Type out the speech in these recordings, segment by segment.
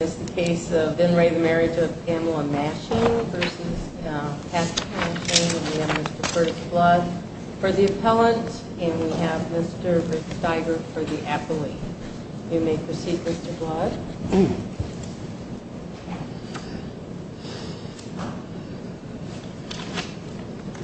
This is the case of Ben Ray the Marriage of Pamela Masching versus Patrick Masching. We have Mr. Curtis Blood for the appellant and we have Mr. Rick Steiger for the appellate. You may proceed Mr. Blood.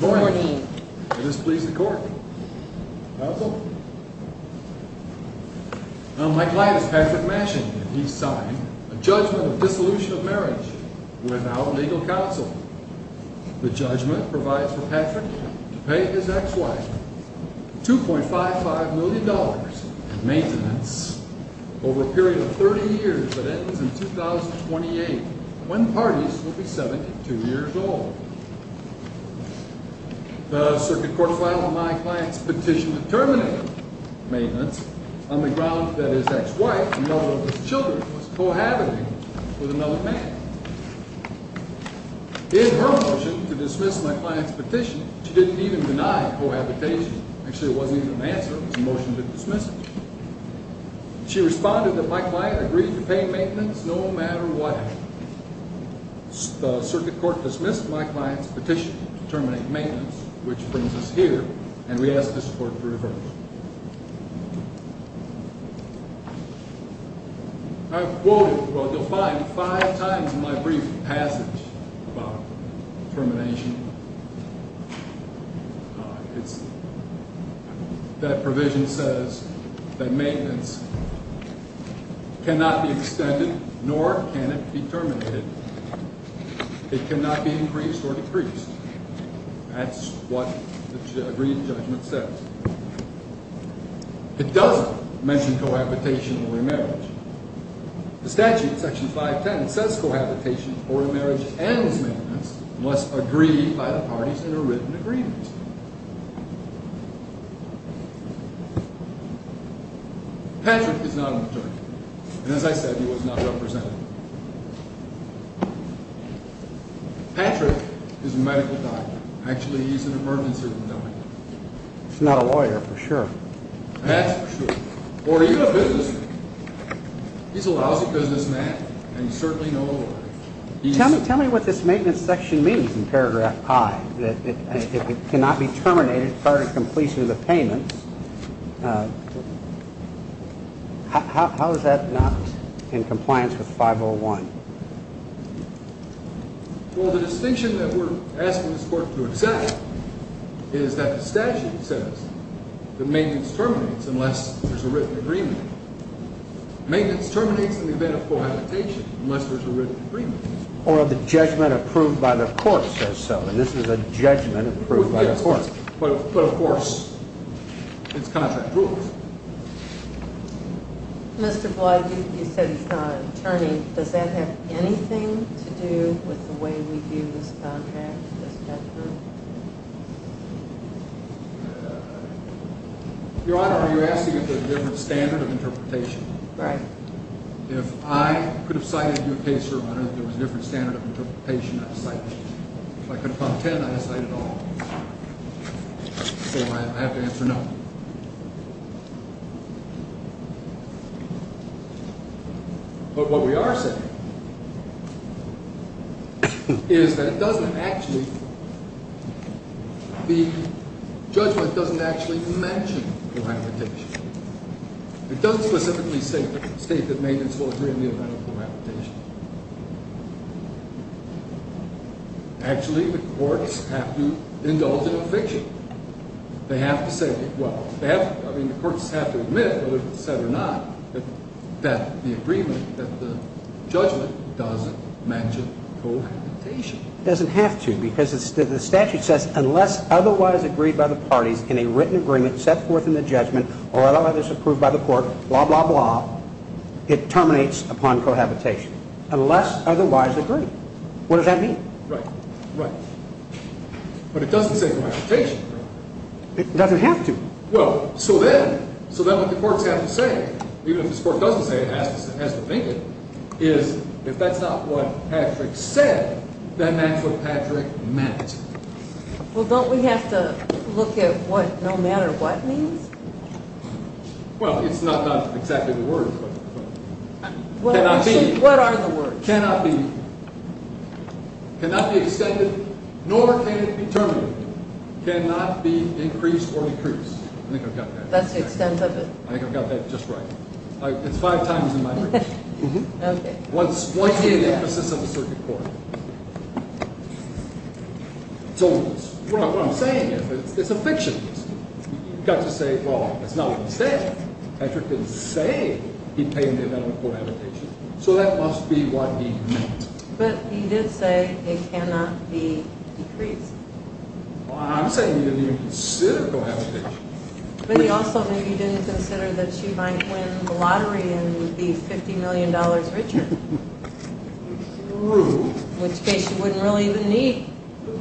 Good morning. May this please the court. How so? My client is Patrick Masching and he has signed a judgment of dissolution of marriage without legal counsel. The judgment provides for Patrick to pay his ex-wife 2.55 million dollars in maintenance over a period of 30 years that ends in 2028 when parties will be 72 years old. The circuit court filed my client's petition to terminate maintenance on the grounds that his ex-wife and mother of his children was cohabiting with another man. In her motion to dismiss my client's petition she didn't even deny cohabitation. Actually it wasn't even an answer it was a motion to dismiss it. She responded that my client agreed to pay maintenance no matter what happened. The circuit court dismissed my client's petition to terminate maintenance which brings us here and we ask this court to revert. I've quoted or defined five times in my brief passage about termination. It's that provision says that maintenance cannot be extended nor can it be terminated. It cannot be increased or decreased. That's what the agreed judgment says. It doesn't mention cohabitation or remarriage. The statute section 510 says cohabitation or remarriage and maintenance must agree by the parties in a written agreement. Patrick is not an attorney and as I said he was not represented. Patrick is a medical doctor. Actually he's an emergency room doctor. He's not a lawyer for sure. That's for sure. Or even a businessman. He's a lousy businessman and certainly no lawyer. Tell me what this maintenance section means in paragraph 5. It cannot be terminated prior to completion of the payments. How is that not in compliance with 501? Well the distinction that we're asking this court to accept is that the statute says that maintenance terminates unless there's a written agreement. Maintenance terminates in the event of cohabitation unless there's a written agreement. Or the judgment approved by the court says so and this is a judgment approved by the court. But of course it's contract rules. Mr. Blood, you said he's not an attorney. Does that have anything to do with the way we view this contract, this judgment? Your Honor, are you asking if there's a different standard of interpretation? Right. If I could have cited your case, Your Honor, that there was a different standard of interpretation, I'd cite it. If I could have found 10, I'd cite it all. So I have to answer no. But what we are saying is that it doesn't actually, the judgment doesn't actually mention cohabitation. It doesn't specifically state that maintenance will occur in the event of cohabitation. Actually the courts have to indulge in eviction. They have to say, well, the courts have to admit whether it's said or not that the agreement, that the judgment doesn't mention cohabitation. It doesn't have to because the statute says unless otherwise agreed by the parties in a written agreement set forth in the judgment or otherwise approved by the court, blah, blah, blah, it terminates upon cohabitation. Unless otherwise agreed. What does that mean? Right. Right. But it doesn't say cohabitation. It doesn't have to. Well, so then, so then what the courts have to say, even if this court doesn't say it, has to think it, is if that's not what Patrick said, then that's what Patrick meant. Well, don't we have to look at what no matter what means? Well, it's not exactly the word, but cannot be. What are the words? Cannot be, cannot be extended, nor can it be terminated. Cannot be increased or decreased. I think I've got that. That's the extent of it. I think I've got that just right. It's five times in my brief. Okay. Once again, the emphasis of the circuit court. So what I'm saying is it's eviction. You've got to say, well, that's not what he said. Patrick didn't say he'd pay him to admit on cohabitation. So that must be what he meant. But he did say it cannot be decreased. Well, I'm saying he didn't even consider cohabitation. But he also knew he didn't consider that she might win the lottery and be $50 million richer. True. In which case she wouldn't really even need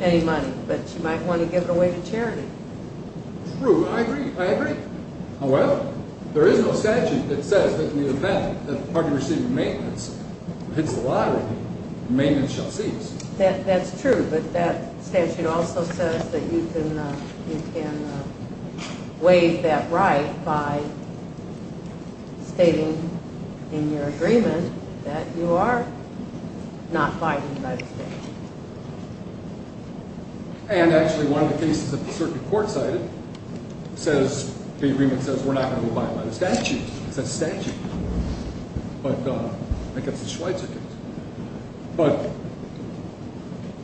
any money, but she might want to give it away to charity. True. I agree. I agree. However, there is no statute that says that in the event that the party receiving maintenance hits the lottery, maintenance shall cease. That's true. But that statute also says that you can waive that right by stating in your agreement that you are not fighting by the statute. And actually one of the cases that the circuit court cited says the agreement says we're not going to abide by the statute. It's a statute. But I guess the Schweitzer case. But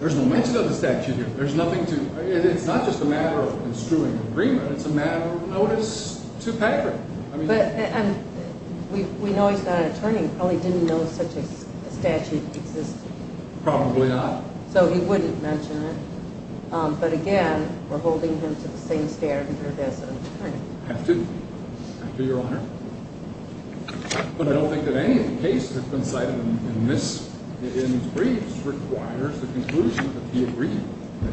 there's no mention of the statute here. There's nothing to – it's not just a matter of construing an agreement. It's a matter of notice to Patrick. But we know he's not an attorney. He probably didn't know such a statute existed. Probably not. So he wouldn't mention it. But, again, we're holding him to the same standard here as an attorney. I have to, Your Honor. But I don't think that any of the cases that have been cited in these briefs requires the conclusion that he agreed to, that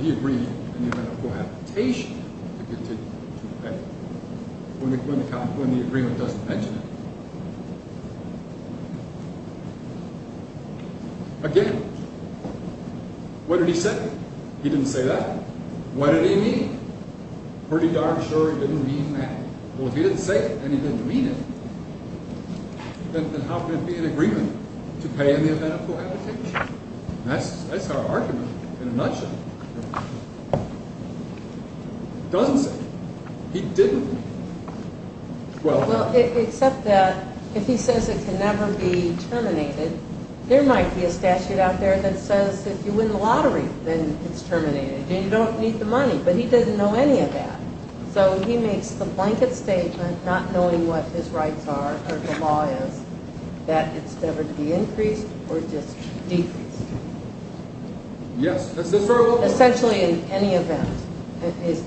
he agreed in the event of cohabitation to continue to pay when the agreement doesn't mention it. Again, what did he say? He didn't say that. What did he mean? Pretty darn sure he didn't mean that. Well, if he didn't say it and he didn't mean it, then how can it be an agreement to pay in the event of cohabitation? That's our argument in a nutshell. It doesn't say it. He didn't. Well, except that if he says it can never be terminated, there might be a statute out there that says if you win the lottery, then it's terminated and you don't need the money. But he doesn't know any of that. So he makes the blanket statement, not knowing what his rights are or the law is, that it's never to be increased or just decreased. Yes. Essentially in any event. It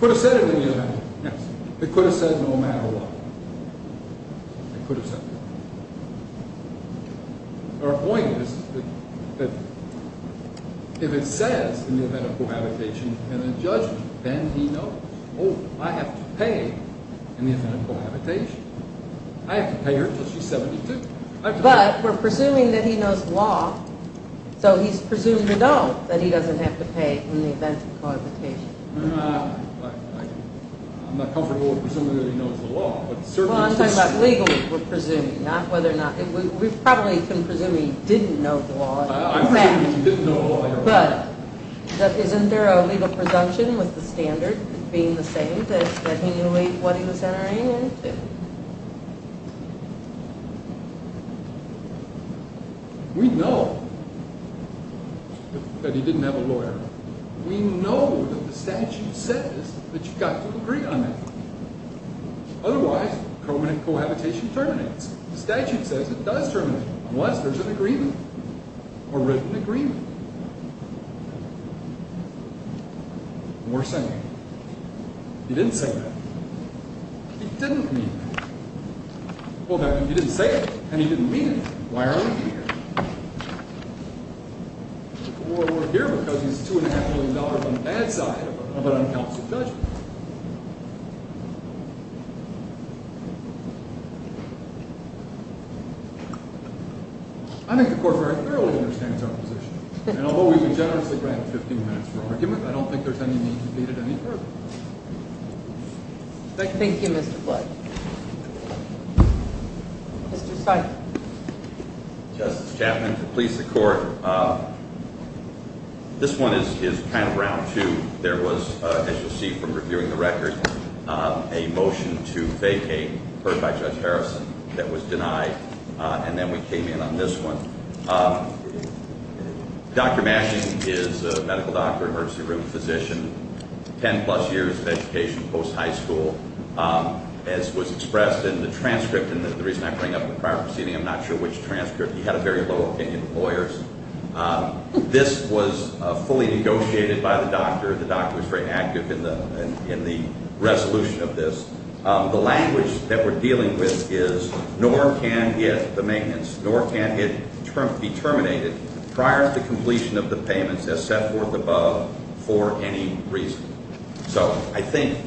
could have said it in the event. Yes. It could have said no matter what. It could have said that. Our point is that if it says in the event of cohabitation and a judgment, then he knows, oh, I have to pay in the event of cohabitation. I have to pay her until she's 72. But we're presuming that he knows the law, so he's presuming to know that he doesn't have to pay in the event of cohabitation. I'm not comfortable with presuming that he knows the law. Well, I'm talking about legally we're presuming, not whether or not. We probably can presume he didn't know the law. I'm presuming he didn't know the law. But isn't there a legal presumption with the standard being the same that he knew what he was entering into? We know that he didn't have a lawyer. We know that the statute says that you've got to agree on it. Otherwise, permanent cohabitation terminates. The statute says it does terminate unless there's an agreement or written agreement. And we're saying, he didn't say that. He didn't mean that. Well, if he didn't say it and he didn't mean it, why are we here? Well, we're here because he's $2.5 million on the bad side of an unconstitutional judgment. I think the court very clearly understands our position. And although we would generously grant 15 minutes for argument, I don't think there's any need to beat it any further. Thank you, Mr. Flood. Mr. Stein. Justice Chapman, to please the court, this one is kind of round two. There was, as you'll see from reviewing the record, a motion to vacate heard by Judge Harrison that was denied. And then we came in on this one. Dr. Mashing is a medical doctor, emergency room physician, ten plus years of education post high school. As was expressed in the transcript, and the reason I bring up the prior proceeding, I'm not sure which transcript. He had a very low opinion of lawyers. This was fully negotiated by the doctor. The doctor was very active in the resolution of this. The language that we're dealing with is nor can it, the maintenance, nor can it be terminated prior to completion of the payments as set forth above for any reason. So I think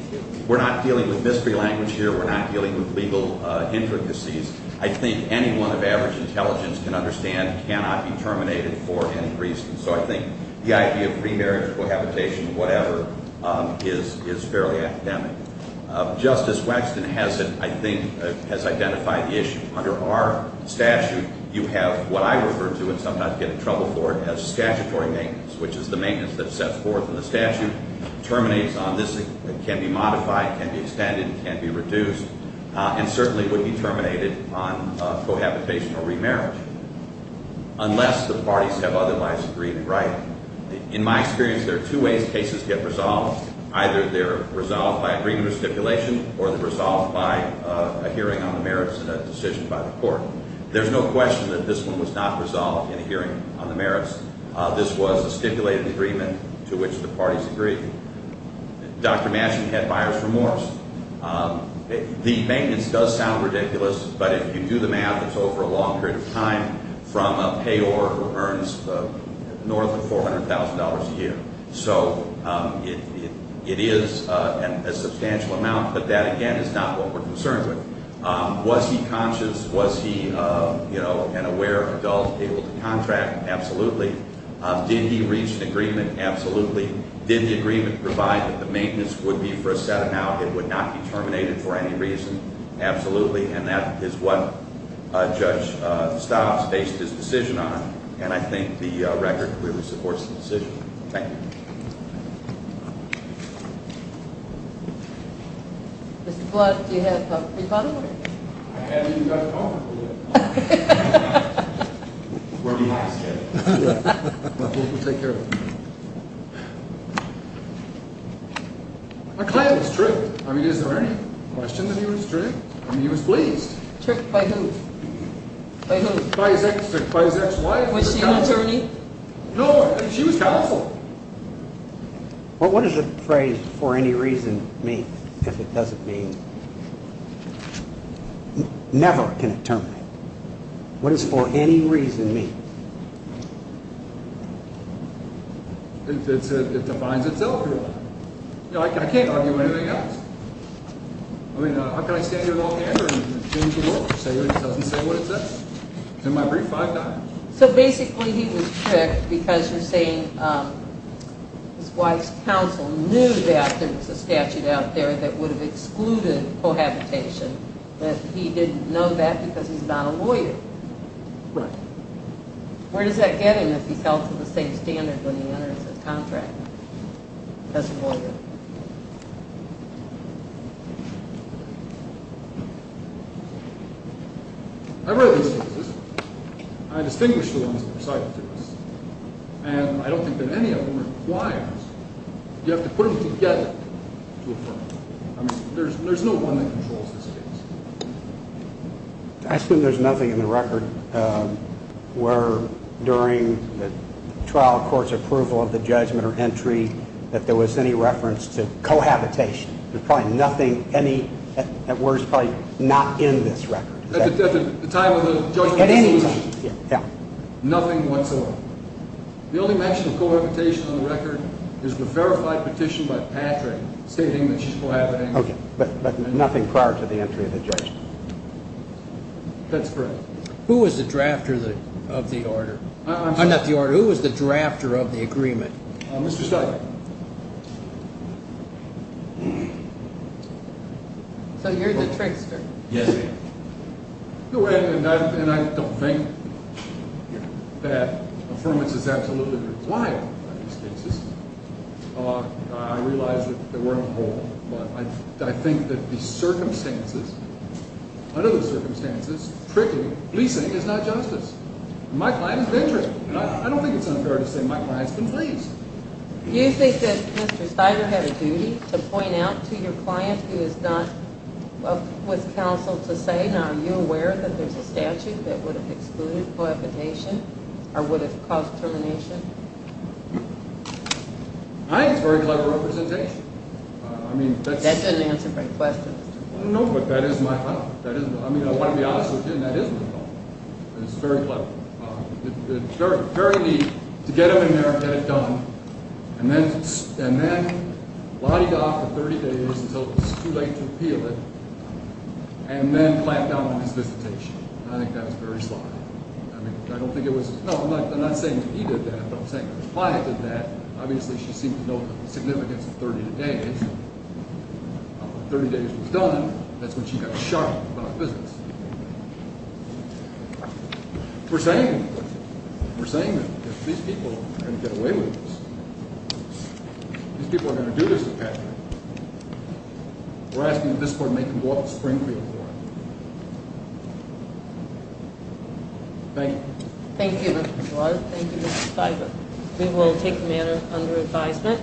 we're not dealing with mystery language here. We're not dealing with legal intricacies. I think anyone of average intelligence can understand cannot be terminated for any reason. So I think the idea of premarital cohabitation, whatever, is fairly academic. Justice Waxman has, I think, has identified the issue. Under our statute, you have what I refer to, and sometimes get in trouble for it, as statutory maintenance, which is the maintenance that sets forth in the statute, terminates on this, can be modified, can be extended, can be reduced, and certainly would be terminated on cohabitation or remarriage unless the parties have otherwise agreed, right? In my experience, there are two ways cases get resolved. Either they're resolved by agreement or stipulation or they're resolved by a hearing on the merits and a decision by the court. There's no question that this one was not resolved in a hearing on the merits. This was a stipulated agreement to which the parties agreed. Dr. Matson had buyer's remorse. The maintenance does sound ridiculous, but if you do the math, it's over a long period of time from a payor who earns north of $400,000 a year. So it is a substantial amount, but that, again, is not what we're concerned with. Was he conscious? Was he, you know, an aware adult able to contract? Absolutely. Did he reach an agreement? Absolutely. Did the agreement provide that the maintenance would be for a set amount? It would not be terminated for any reason. Absolutely. And that is what Judge Stiles based his decision on. And I think the record really supports the decision. Thank you. Mr. Flood, do you have a rebuttal? I haven't even got a phone number yet. We're lost here. We'll take care of it. I claim he was tricked. I mean, is there any question that he was tricked? I mean, he was pleased. Tricked by who? By who? By his ex-wife. Was she an attorney? No, she was counsel. What does the phrase, for any reason, mean, if it doesn't mean? Never can it terminate. What does for any reason mean? It defines itself. I can't argue anything else. I mean, how can I stand here in all candor and change the world if it doesn't say what it says? In my brief, I've done it. So basically he was tricked because you're saying his wife's counsel knew that there was a statute out there that would have excluded cohabitation, but he didn't know that because he's not a lawyer. Right. Where does that get him if he fell to the same standard when he enters a contract as a lawyer? I've read these cases. I distinguish the ones that are cited to us. And I don't think that any of them requires you have to put them together to affirm them. I mean, there's no one that controls this case. I assume there's nothing in the record where during the trial court's approval of the judgment or entry that there was any reference to cohabitation. There's probably nothing, any, at worst, probably not in this record. At the time of the judgment? At any time. Nothing whatsoever. The only mention of cohabitation on the record is the verified petition by Patrick stating that she's cohabiting. Okay. But nothing prior to the entry of the judgment. That's correct. Who was the drafter of the order? I'm sorry. Not the order. Who was the drafter of the agreement? Mr. Starkey. So you're the trickster. Yes, ma'am. And I don't think that affirmance is absolutely required on these cases. I realize that we're on a roll, but I think that the circumstances, under those circumstances, trickery, policing is not justice. My client is venturing. I don't think it's unfair to say my client's been pleased. Do you think that Mr. Steiner had a duty to point out to your client who is not up with counsel to say, Mr. Steiner, are you aware that there's a statute that would have excluded cohabitation or would have caused termination? I think it's a very clever representation. That doesn't answer my question. No, but that is my thought. I mean, I want to be honest with you, and that is my thought. It's very clever. It's very neat to get him in there and get it done, and then lodge it off for 30 days until it's too late to appeal it, and then clamp down on his visitation. I think that is very sly. I mean, I don't think it was – no, I'm not saying that he did that. I'm not saying that his client did that. Obviously, she seemed to know the significance of 30 days. After 30 days was done, that's when she got sharp about business. We're saying – we're saying that these people are going to get away with this. These people are going to do this to Patrick. We're asking that this court make him go off the Springfield Court. Thank you. Thank you, Mr. Dwyer. Thank you, Mr. Spicer. We will take the matter under advisement.